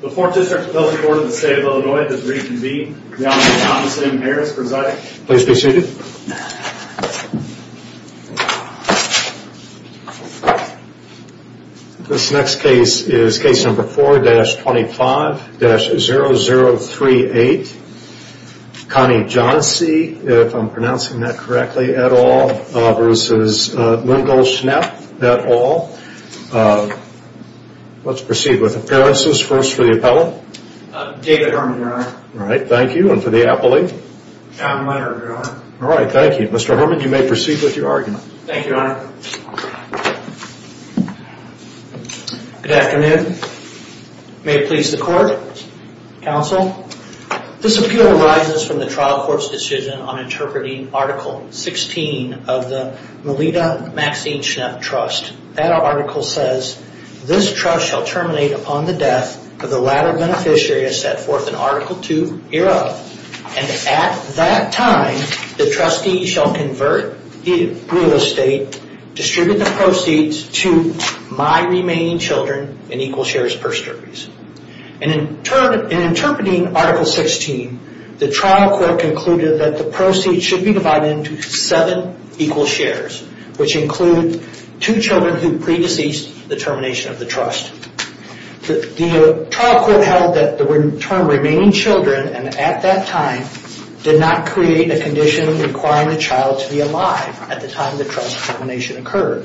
The Fourth District Appeals Court of the State of Illinois does reconvene. Your Honor, Thomas M. Harris presiding. Please be seated. This next case is case number 4-25-0038 Connie Johnsey, if I'm pronouncing that correctly et al. v. Mungel Schnepf et al. Let's proceed with appearances. First for the appellant. David Herman, Your Honor. All right. Thank you. And for the appellee? John Leonard, Your Honor. All right. Thank you. Mr. Herman, you may proceed with your argument. Thank you, Your Honor. Good afternoon. May it please the Court, Counsel. This appeal arises from the trial court's decision on interpreting Article 16 of the Melita Maxine Schnepf Trust. That article says, this trust shall terminate upon the death of the latter beneficiary as set forth in Article 2 hereof. And at that time, the trustee shall convert the real estate, distribute the proceeds to my remaining children in equal shares per service. In interpreting Article 16, the trial court concluded that the proceeds should be divided into seven equal shares, which include two children who pre-deceased the termination of the trust. The trial court held that the term remaining children, and at that time, did not create a condition requiring the child to be alive at the time the trust termination occurred.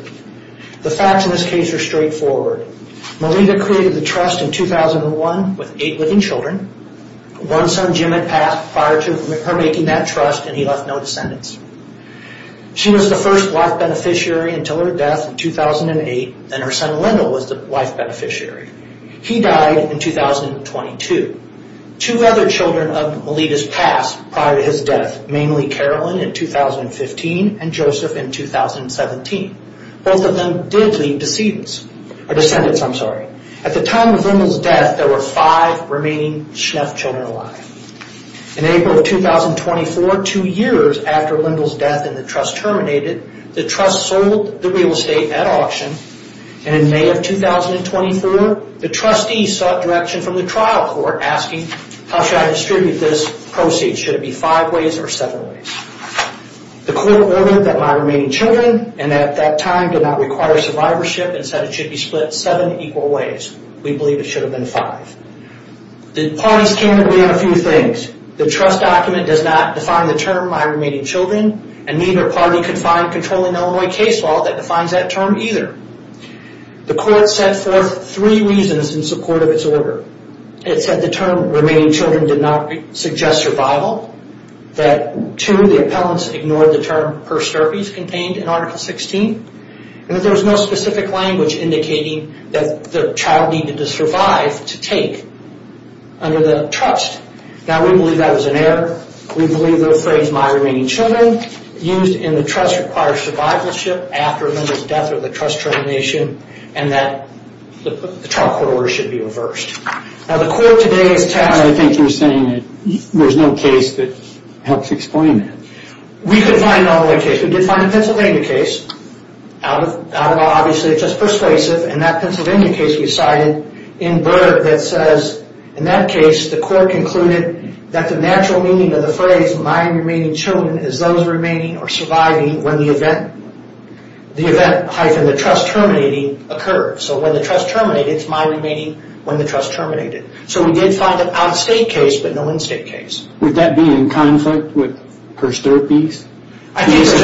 The facts in this case are straightforward. Melita created the trust in 2001 with eight living children. One son, Jim, had passed prior to her making that trust, and he left no descendants. She was the first wife beneficiary until her death in 2008, and her son, Lyndall, was the wife beneficiary. He died in 2022. Two other children of Melita's passed prior to his death, mainly Carolyn in 2015 and Joseph in 2017. Both of them did leave descendants. At the time of Lyndall's death, there were five remaining Schnepp children alive. In April of 2024, two years after Lyndall's death and the trust terminated, the trust sold the real estate at auction, and in May of 2024, the trustee sought direction from the trial court asking, how shall I distribute this proceeds? Should it be five ways or seven ways? The court ordered that my remaining children, and at that time, did not require survivorship and said it should be split seven equal ways. We believe it should have been five. The parties came to agree on a few things. The trust document does not define the term, my remaining children, and neither party could find controlling Illinois case law that defines that term either. The court set forth three reasons in support of its order. It said the term remaining children did not suggest survival, that two, the appellants ignored the term persterpes contained in Article 16, and that there was no specific language indicating that the child needed to survive to take under the trust. Now we believe that was an error. We believe the phrase, my remaining children, used in the trust requires survivorship after a member's death or the trust termination, and that the trial court order should be reversed. Now the court today is tasked- I think you're saying that there's no case that helps explain that. We could find an Illinois case. We did find a Pennsylvania case out of obviously just persuasive, and that Pennsylvania case we cited in Berg that says, in that case, the court concluded that the natural meaning of the phrase, my remaining children, is those remaining or surviving when the event, the trust terminating, occurred. So when the trust terminated, it's my remaining when the trust terminated. So we did find an out-of-state case, but no in-state case. Would that be in conflict with persterpes? I think so.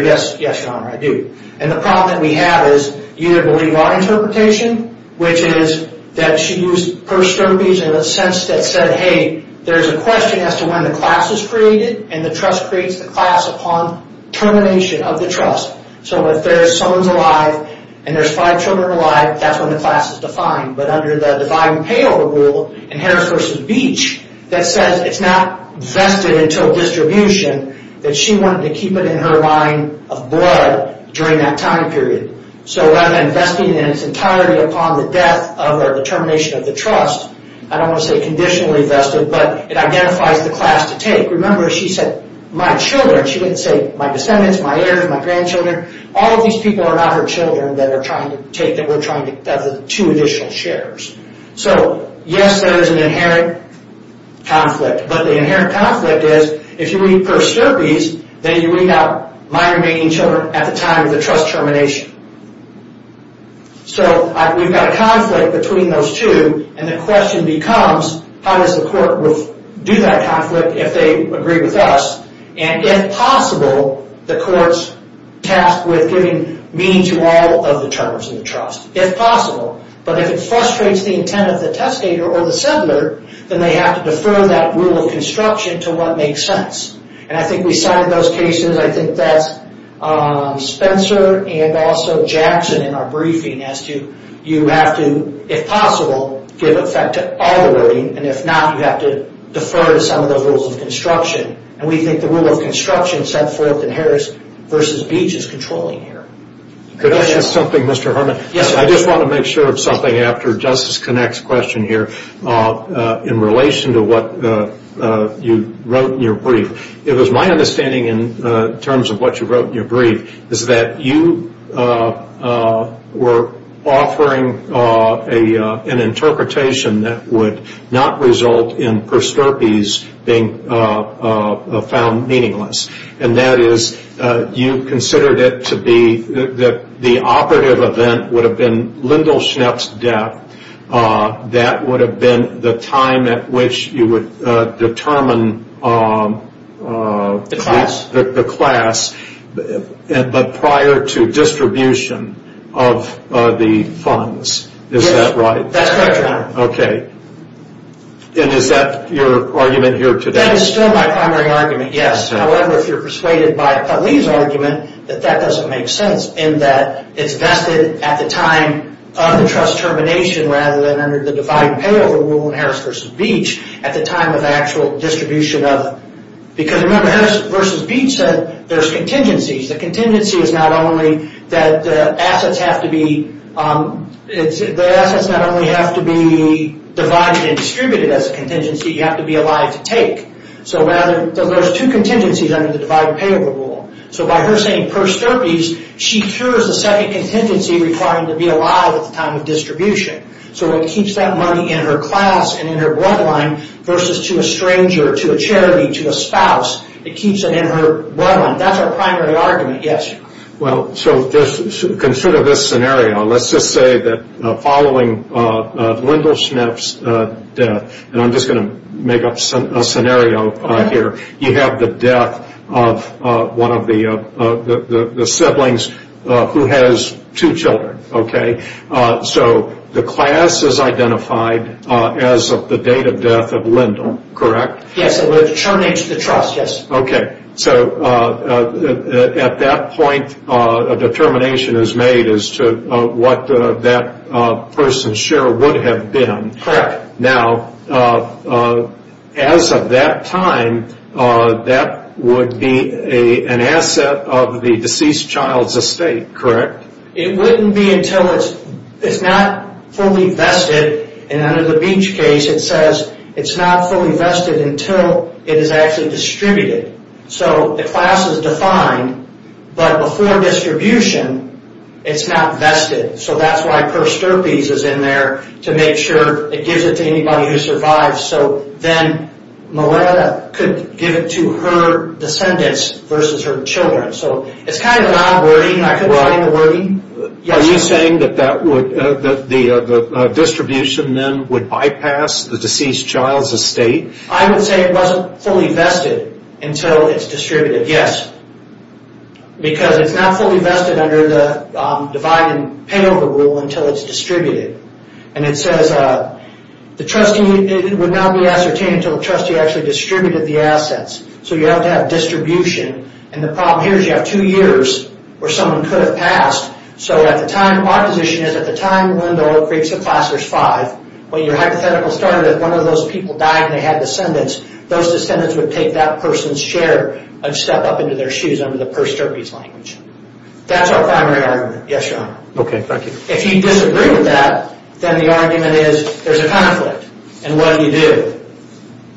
Yes, your honor. I do. And the problem that we have is you either believe our interpretation, which is that she used persterpes in a sense that said, hey, there's a question as to when the class was created, and the trust creates the class upon termination of the trust. So if someone's alive, and there's five children alive, that's when the class is defined. But under the defined pay-over rule in Harris v. Beach, that says it's not vested until distribution, that she wanted to keep it in her line of blood during that time period. So rather than vesting it in its entirety upon the death of or the termination of the trust, I don't want to say conditionally vested, but it identifies the class to take. Remember, she said, my children, she didn't say my descendants, my heirs, my grandchildren. All of these people are not her children that are trying to take, that we're trying to, that are the two additional sharers. So yes, there is an inherent conflict, but the inherent conflict is, if you read persterpes, then you read out my remaining children at the time of the trust termination. So we've got a conflict between those two, and the question becomes, how does the court do that conflict if they agree with us? And if possible, the court's tasked with giving meaning to all of the terms of the trust, if possible. But if it frustrates the intent of the testator or the settler, then they have to defer that rule of construction to what makes sense. And I think we cited those cases, I think that's Spencer and also Jackson in our briefing as to, you have to, if possible, give effect to all the wording, and if not, you have to defer to some of those rules of construction. And we think the rule of construction, said Foylton Harris versus Beach, is controlling here. Could I add something, Mr. Herman? Yes, sir. I just want to make sure of something after Justice Connacht's question here, in relation to what you wrote in your brief. It was my understanding, in terms of what you wrote in your brief, is that you were offering an interpretation that would not result in persterpes being found meaningless. And that is, you considered it to be, that the operative event would have been Lindelschnapp's death. That would have been the time at which you would determine the class, but prior to distribution of the funds. Is that right? Yes, that's correct, Your Honor. Okay. And is that your argument here today? That is still my primary argument, yes. However, if you're persuaded by Putley's argument, that that doesn't make sense, in that it's vested at the time of the trust termination, rather than under the divide and payover rule in Harris versus Beach, at the time of the actual distribution of it. Because remember, Harris versus Beach said there's contingencies. The contingency is not only that the assets have to be, the assets not only have to be divided and distributed as a contingency, you have to be allowed to take. So rather, there's two contingencies under the divide and payover rule. So by her saying prosterpies, she cures the second contingency requiring to be allowed at the time of distribution. So it keeps that money in her class and in her bloodline versus to a stranger, to a charity, to a spouse. It keeps it in her bloodline. That's our primary argument, yes. Well, consider this scenario. Let's just say that following Lindelschnapp's death, and I'm just going to make up a scenario here, you have the death of one of the siblings who has two children. So the class is identified as of the date of death of Lindell, correct? Yes, and we're terminating the trust, yes. Okay. So at that point, a determination is made as to what that person's share would have been. Correct. Now, as of that time, that would be an asset of the deceased child's estate, correct? It wouldn't be until it's not fully vested, and under the Beach case, it says it's not fully vested until it is actually distributed. So the class is defined, but before distribution, it's not vested. So that's why Per Sturpes is in there, to make sure it gives it to anybody who survives. So then Mileta could give it to her descendants versus her children. So it's kind of a non-wordy, I couldn't find the wordy. Are you saying that the distribution then would bypass the deceased child's estate? I would say it wasn't fully vested until it's distributed, yes. Because it's not fully vested under the divide and pay over rule until it's distributed. And it says the trustee, it would not be ascertained until the trustee actually distributed the So you have to have distribution, and the problem here is you have two years where someone could have passed. So at the time, our position is at the time when the Oak Creek Supplier's five, when your hypothetical started, if one of those people died and they had descendants, those descendants would take that person's share and step up into their shoes under the Per Sturpes language. That's our primary argument. Yes, Your Honor. Okay, thank you. If you disagree with that, then the argument is there's a conflict, and what do you do?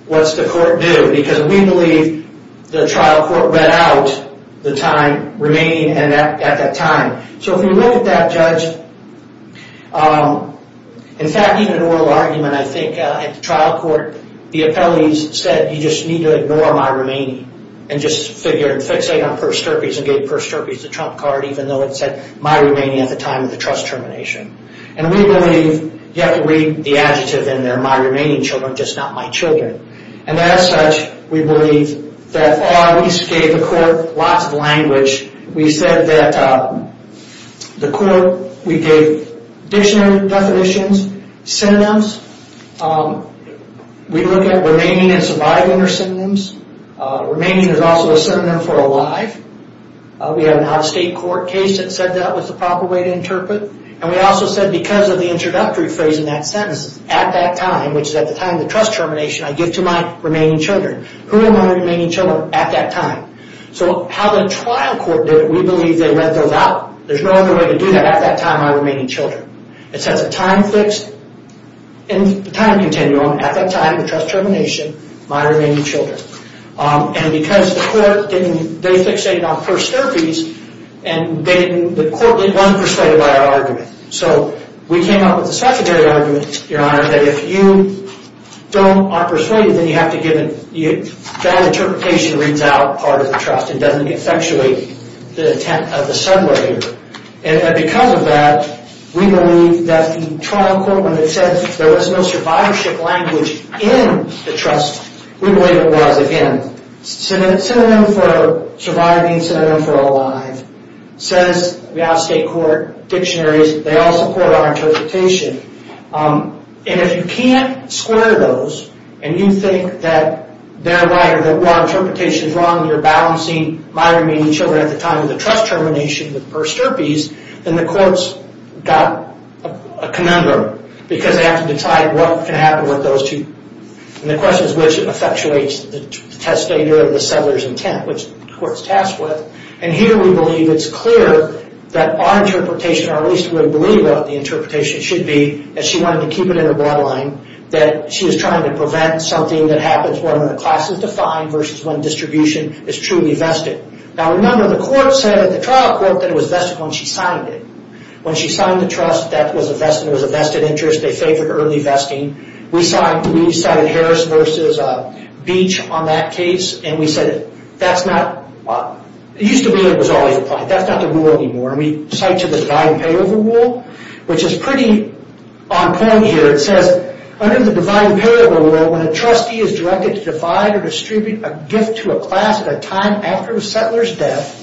What's the court do? Because we believe the trial court read out the time remaining at that time. So if we look at that, Judge, in fact, even an oral argument, I think, at the trial court, the appellees said, you just need to ignore my remaining and just figure and fixate on Per Sturpes and gave Per Sturpes the trump card, even though it said my remaining at the time of the trust termination. And we believe you have to read the adjective in there, my remaining children, just not my children. And as such, we believe that we gave the court lots of language. We said that the court, we gave dictionary definitions, synonyms. We look at remaining and surviving are synonyms. Remaining is also a synonym for alive. We have an out-of-state court case that said that was the proper way to interpret. And we also said because of the introductory phrase in that sentence, at that time, which is at the time of the trust termination, I give to my remaining children. Who are my remaining children at that time? So how the trial court did it, we believe they let those out. There's no other way to do that at that time, my remaining children. It says a time fixed, in the time continuum, at that time of the trust termination, my remaining children. And because the court didn't, they fixated on Per Sturpes, and the court wasn't persuaded by our argument. So we came up with a secondary argument, Your Honor, that if you don't, aren't persuaded, then you have to give it, that interpretation reads out part of the trust. It doesn't effectuate the intent of the sub-layer. And because of that, we believe that the trial court, when it said there was no survivorship language in the trust, we believe it was, again. Synonym for surviving, synonym for alive. Says the out-of-state court dictionaries, they all support our interpretation. And if you can't square those, and you think that they're right, or that our interpretation is wrong, you're balancing my remaining children at the time of the trust termination with Per Sturpes, then the court's got a conundrum. Because they have to decide what can happen with those two. And the question is which effectuates the testator and the sub-layer's intent, which the court's tasked with. And here we believe it's clear that our interpretation, or at least we believe what the interpretation should be, as she wanted to keep it in her bloodline, that she was trying to prevent something that happens when the class is defined versus when distribution is truly vested. Now remember, the court said at the trial court that it was vested when she signed it. When she signed the trust, that was a vested interest. They favored early vesting. We cited Harris versus Beach on that case. And we said that's not, it used to be that it was always implied. That's not the rule anymore. And we cite to the divide and pay over rule, which is pretty on point here. It says, under the divide and pay over rule, when a trustee is directed to divide or distribute a gift to a class at a time after a settler's death,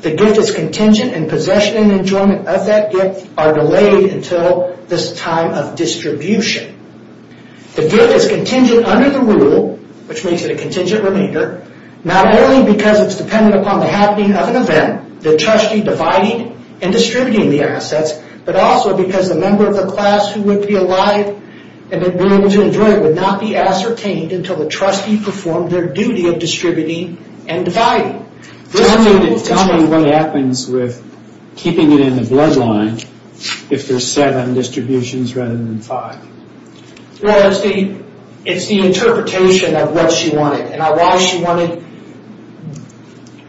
the gift is contingent and possession and enjoyment of that gift are delayed until this time of distribution. The gift is contingent under the rule, which makes it a contingent remainder, not only because it's dependent upon the happening of an event, the trustee dividing and distributing the assets, but also because the member of the class who would be alive and would be able to enjoy it would not be ascertained until the trustee performed their duty of distributing and dividing. Tell me what happens with keeping it in the bloodline if there's seven distributions rather than five. Well, it's the interpretation of what she wanted. And why she wanted,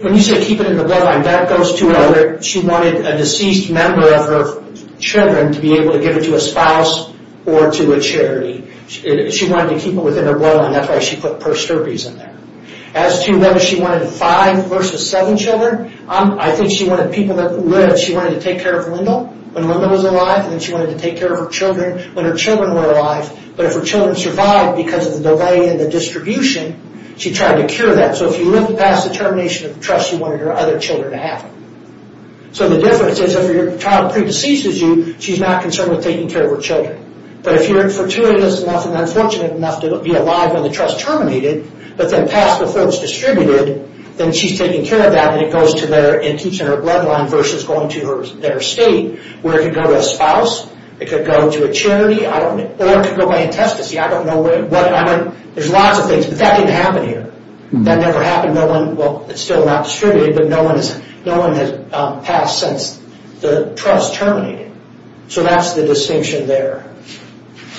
when you say keep it in the bloodline, that goes to where she wanted a deceased member of her children to be able to give it to a spouse or to a charity. She wanted to keep it within her bloodline. That's why she put purse derbies in there. As to whether she wanted five versus seven children, I think she wanted people that lived, she wanted to take care of Lyndall when Lyndall was alive, and she wanted to take care of her children when her children were alive. But if her children survived because of the delay in the distribution, she tried to cure that. So if you lived past the termination of the trust, you wanted her other children to have it. So the difference is if your child pre-deceases you, she's not concerned with taking care of her children. But if you're fortuitous enough and unfortunate enough to be alive when the trust terminated, but then passed before it's distributed, then she's taking care of that and it keeps in her bloodline versus going to her estate where it could go to a spouse, it could go to a charity, or it could go by intestacy. I don't know. There's lots of things, but that didn't happen here. That never happened. No one, well, it's still not distributed, but no one has passed since the trust terminated. So that's the distinction there.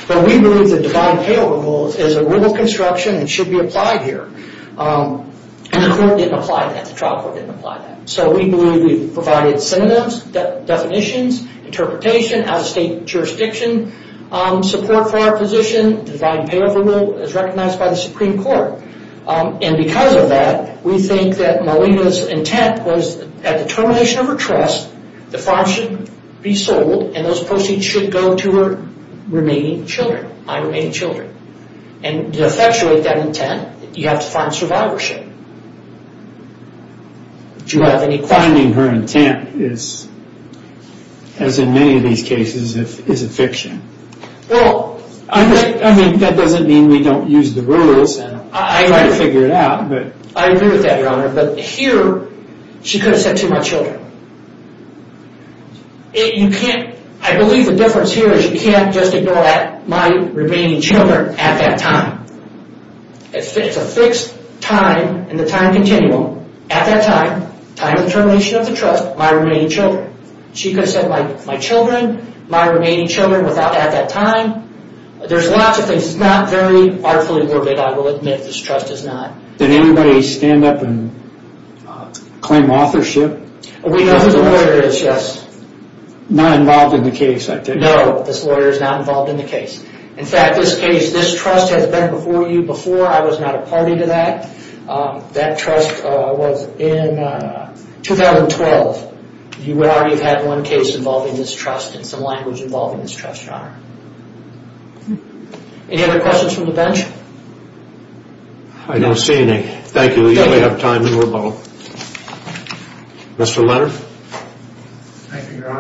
But we believe the divine payroll rule is a rule of construction and should be applied here. And the court didn't apply that. The trial court didn't apply that. So we believe we provided synonyms, definitions, interpretation, out-of-state jurisdiction, support for our position, divine payroll rule as recognized by the Supreme Court. And because of that, we think that Malina's intent was at the termination of her trust, the farm should be sold and those proceeds should go to her remaining children, my remaining children. And to effectuate that intent, you have to find survivorship. Do you have any questions? Finding her intent is, as in many of these cases, is a fiction. Well... I mean, that doesn't mean we don't use the rules and try to figure it out, but... I agree with that, Your Honor. But here, she could have said to my children. You can't... I believe the difference here is you can't just ignore my remaining children at that time. It's a fixed time in the time continuum. At that time, time of termination of the trust, my remaining children. She could have said my children, my remaining children without at that time. There's lots of things. It's not very artfully morbid, I will admit. This trust is not. Did anybody stand up and claim authorship? We know who the lawyer is, yes. Not involved in the case, I take it. No, this lawyer is not involved in the case. In fact, this case, this trust has been before you before. I was not a party to that. That trust was in 2012. You already have had one case involving this trust and some language involving this trust, Any other questions from the bench? I don't see any. Thank you. We only have time to revoke. Mr. Leonard? Thank you, Your Honor.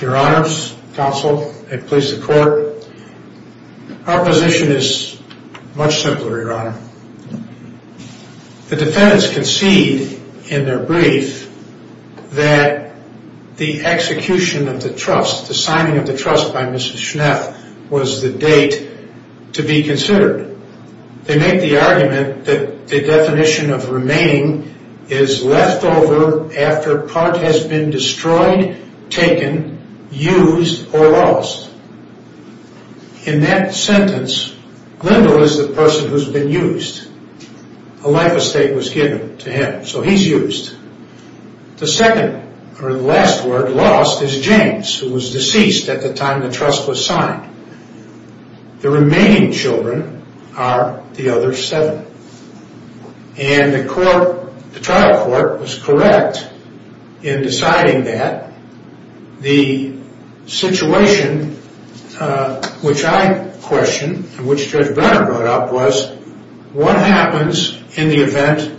Your Honor, counsel, and please support. Our position is much simpler, Your Honor. The defendants concede in their brief that the execution of the trust, the signing of the trust by Mrs. Schnapp was the date to be considered. They make the argument that the definition of remaining is left over after part has been destroyed, taken, used, or lost. In that sentence, Glendale is the person who's been used. A life estate was given to him, so he's used. The second, or the last word, lost is James, who was deceased at the time the trust was signed. The remaining children are the other seven. And the trial court was correct in deciding that. The situation which I questioned and which Judge Brenner brought up was, what happens in the event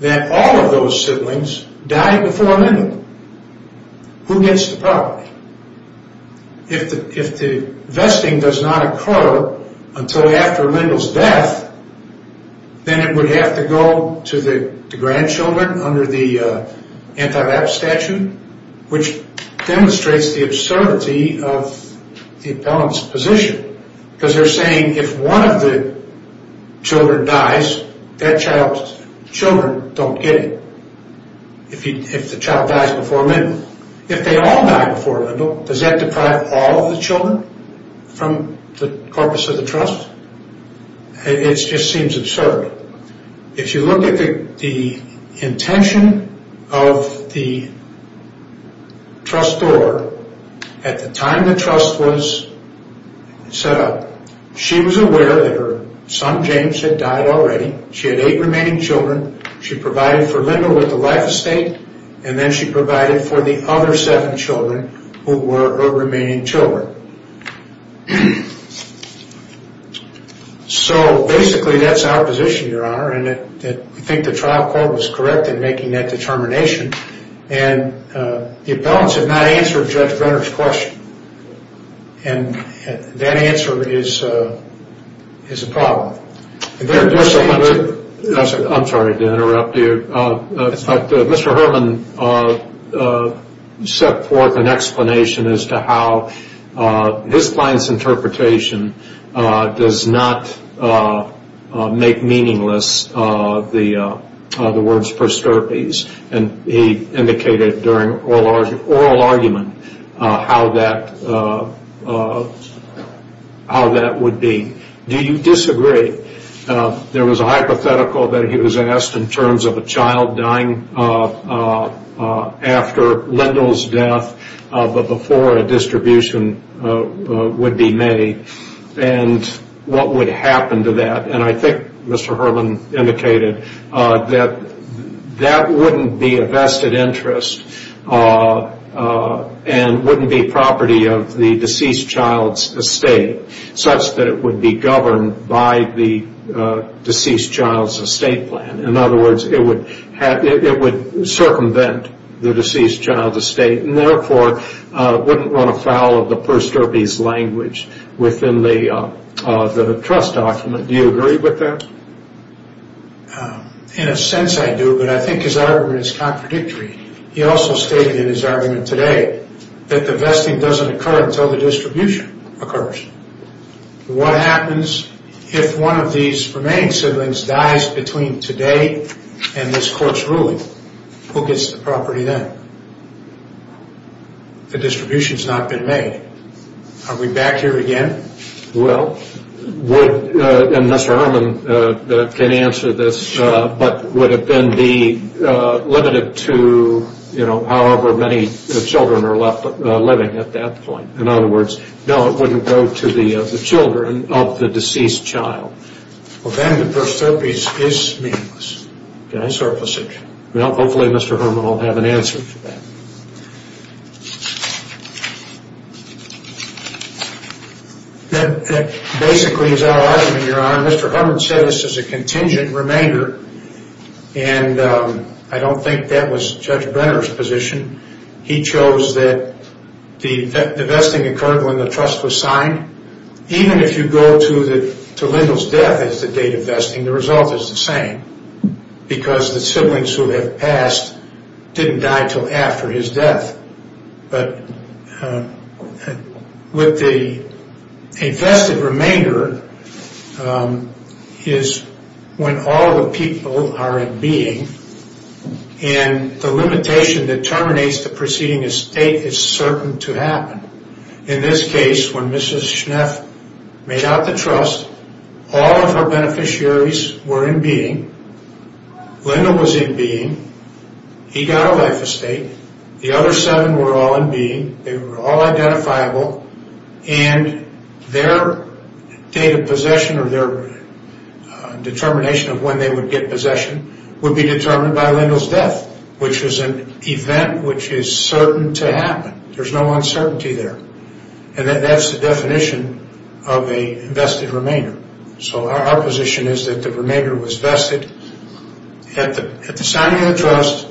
that all of those siblings die before Lendl? Who gets the property? If the vesting does not occur until after Lendl's death, then it would have to go to the grandchildren under the anti-lapse statute, which demonstrates the absurdity of the appellant's position. Because they're saying if one of the children dies, that child's children don't get it. If the child dies before Lendl. If they all die before Lendl, does that deprive all of the children from the corpus of the trust? It just seems absurd. If you look at the intention of the trustor at the time the trust was set up, she was aware that her son James had died already. She had eight remaining children. She provided for Lendl with the life estate, and then she provided for the other seven children, who were her remaining children. Basically, that's our position, Your Honor. I think the trial court was correct in making that determination. The appellants have not answered Judge Brenner's question. That answer is a problem. I'm sorry to interrupt you. Mr. Herman set forth an explanation as to how his client's interpretation does not make meaningless the words prosterpes. He indicated during oral argument how that would be. Do you disagree? There was a hypothetical that he was asked in terms of a child dying after Lendl's death, but before a distribution would be made, and what would happen to that. I think Mr. Herman indicated that that wouldn't be a vested interest and wouldn't be property of the deceased child's estate, such that it would be governed by the deceased child's estate plan. In other words, it would circumvent the deceased child's estate, and therefore wouldn't run afoul of the prosterpes language within the trust document. Do you agree with that? In a sense, I do, but I think his argument is contradictory. He also stated in his argument today that the vesting doesn't occur until the distribution occurs. What happens if one of these remaining siblings dies between today and this court's ruling? Who gets the property then? The distribution's not been made. Are we back here again? Well, would, and Mr. Herman can answer this, but would it then be limited to, you know, however many children are left living at that point? In other words, no, it wouldn't go to the children of the deceased child. Well, then the prosterpes is meaningless. Okay. It's surplusage. Well, hopefully Mr. Herman will have an answer to that. That basically is our argument, Your Honor. Mr. Herman said this is a contingent remainder, and I don't think that was Judge Brenner's position. He chose that the vesting occurred when the trust was signed. Even if you go to Lindell's death as the date of vesting, the result is the same because the siblings who have passed didn't die till after his death. But with a vested remainder is when all the people are in being and the limitation that terminates the proceeding as state is certain to happen. In this case, when Mrs. Schneff made out the trust, all of her beneficiaries were in being. Lindell was in being. He got a life estate. The other seven were all in being. They were all identifiable, and their date of possession or their determination of when they would get possession would be determined by Lindell's death, which was an event which is certain to happen. There's no uncertainty there. And that's the definition of a vested remainder. So our position is that the remainder was vested at the signing of the trust,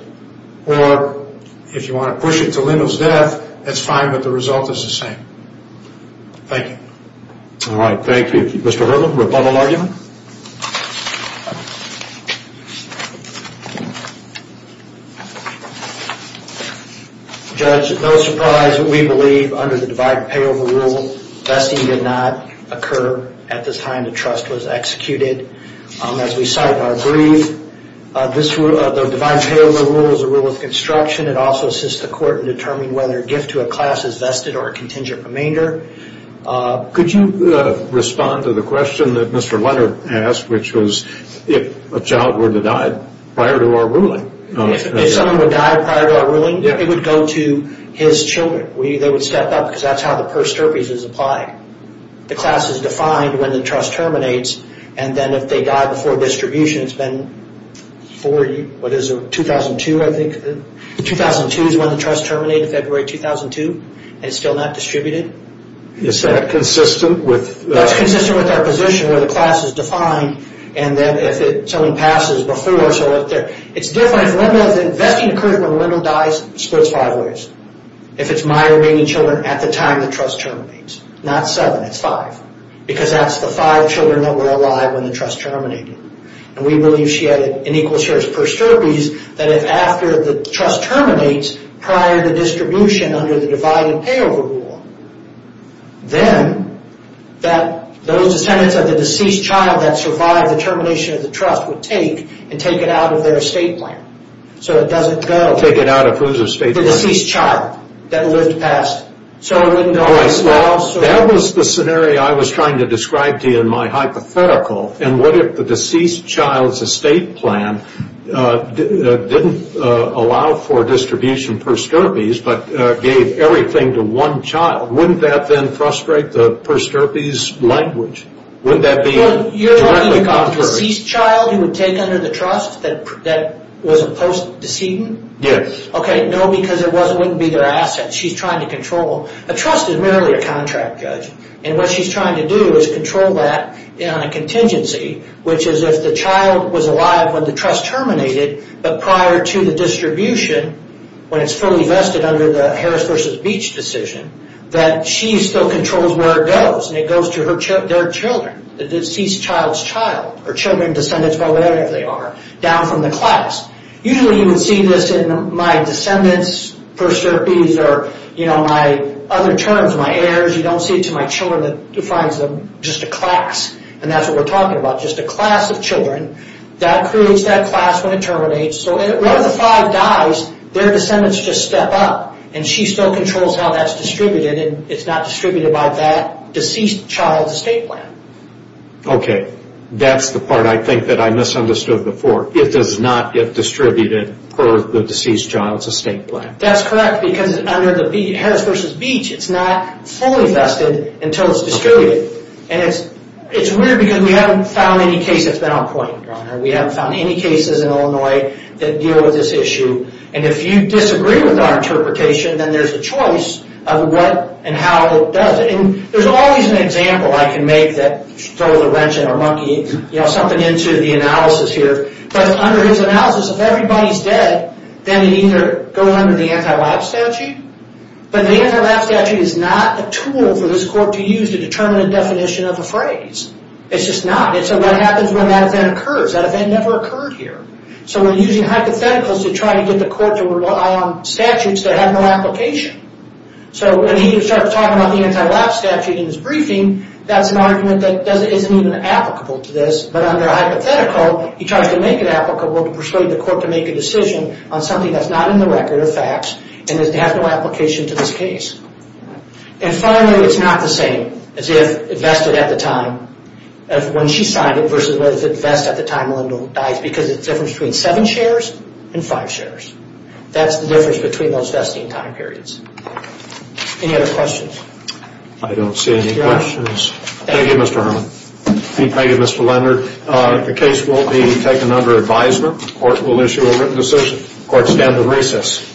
or if you want to push it to Lindell's death, that's fine, but the result is the same. Thank you. All right. Thank you. Mr. Herman, rebuttal argument? Judge, no surprise, we believe under the divine payover rule, vesting did not occur at the time the trust was executed. As we cite in our brief, the divine payover rule is a rule of construction. It also assists the court in determining whether a gift to a class is vested or a contingent remainder. Could you respond to the question that Mr. Leonard raised? Which was if a child were to die prior to our ruling. If someone were to die prior to our ruling, it would go to his children. They would step up because that's how the pers terpes is applied. The class is defined when the trust terminates, and then if they die before distribution, it's been for, what is it, 2002, I think. 2002 is when the trust terminated, February 2002, and it's still not distributed. Is that consistent with? That's consistent with our position where the class is defined, and then if someone passes before, so what's there? It's different. If vesting occurs when one of them dies, it splits five ways. If it's my remaining children at the time the trust terminates. Not seven, it's five. Because that's the five children that were alive when the trust terminated. And we believe she had an equal share of pers terpes that if after the trust terminates, prior to distribution under the divine payover rule, then that those descendants of the deceased child that survived the termination of the trust would take and take it out of their estate plan. So it doesn't go. Take it out of whose estate plan? The deceased child that lived past. That was the scenario I was trying to describe to you in my hypothetical, and what if the deceased child's estate plan didn't allow for distribution pers terpes, but gave everything to one child? Wouldn't that then frustrate the pers terpes language? Wouldn't that be directly contrary? You're talking about the deceased child who would take under the trust that was a post-decedent? Yes. Okay, no, because it wouldn't be their asset. She's trying to control. A trust is merely a contract, Judge. And what she's trying to do is control that on a contingency, which is if the child was alive when the trust terminated, but prior to the distribution, when it's fully vested under the Harris v. Beach decision, that she still controls where it goes, and it goes to their children, the deceased child's child, or children, descendants, whatever they are, down from the class. Usually you would see this in my descendants pers terpes or my other terms, my heirs. You don't see it to my children. It defines them just a class, and that's what we're talking about, just a class of children. That creates that class when it terminates. So if one of the five dies, their descendants just step up, and she still controls how that's distributed, and it's not distributed by that deceased child's estate plan. Okay, that's the part I think that I misunderstood before. It does not get distributed per the deceased child's estate plan. That's correct, because under the Harris v. Beach, it's not fully vested until it's distributed. And it's weird because we haven't found any case that's been on point, Your Honor. We haven't found any cases in Illinois that deal with this issue. And if you disagree with our interpretation, then there's a choice of what and how it does it. And there's always an example I can make that throws a wrench in our monkey, something into the analysis here. But under his analysis, if everybody's dead, then they either go under the anti-lab statute, but the anti-lab statute is not a tool for this court to use to determine a definition of a phrase. It's just not. And so what happens when that event occurs? That event never occurred here. So we're using hypotheticals to try to get the court to rely on statutes that have no application. So when he starts talking about the anti-lab statute in his briefing, that's an argument that isn't even applicable to this. But under hypothetical, he tries to make it applicable to persuade the court to make a decision on something that's not in the record of facts and has no application to this case. And finally, it's not the same as if it vested at the time of when she signed it versus what if it vested at the time Linda dies, because it's the difference between seven shares and five shares. That's the difference between those vesting time periods. Any other questions? I don't see any questions. Thank you, Mr. Herman. Thank you, Mr. Leonard. The case will be taken under advisement. The court will issue a written decision. The court stands at recess.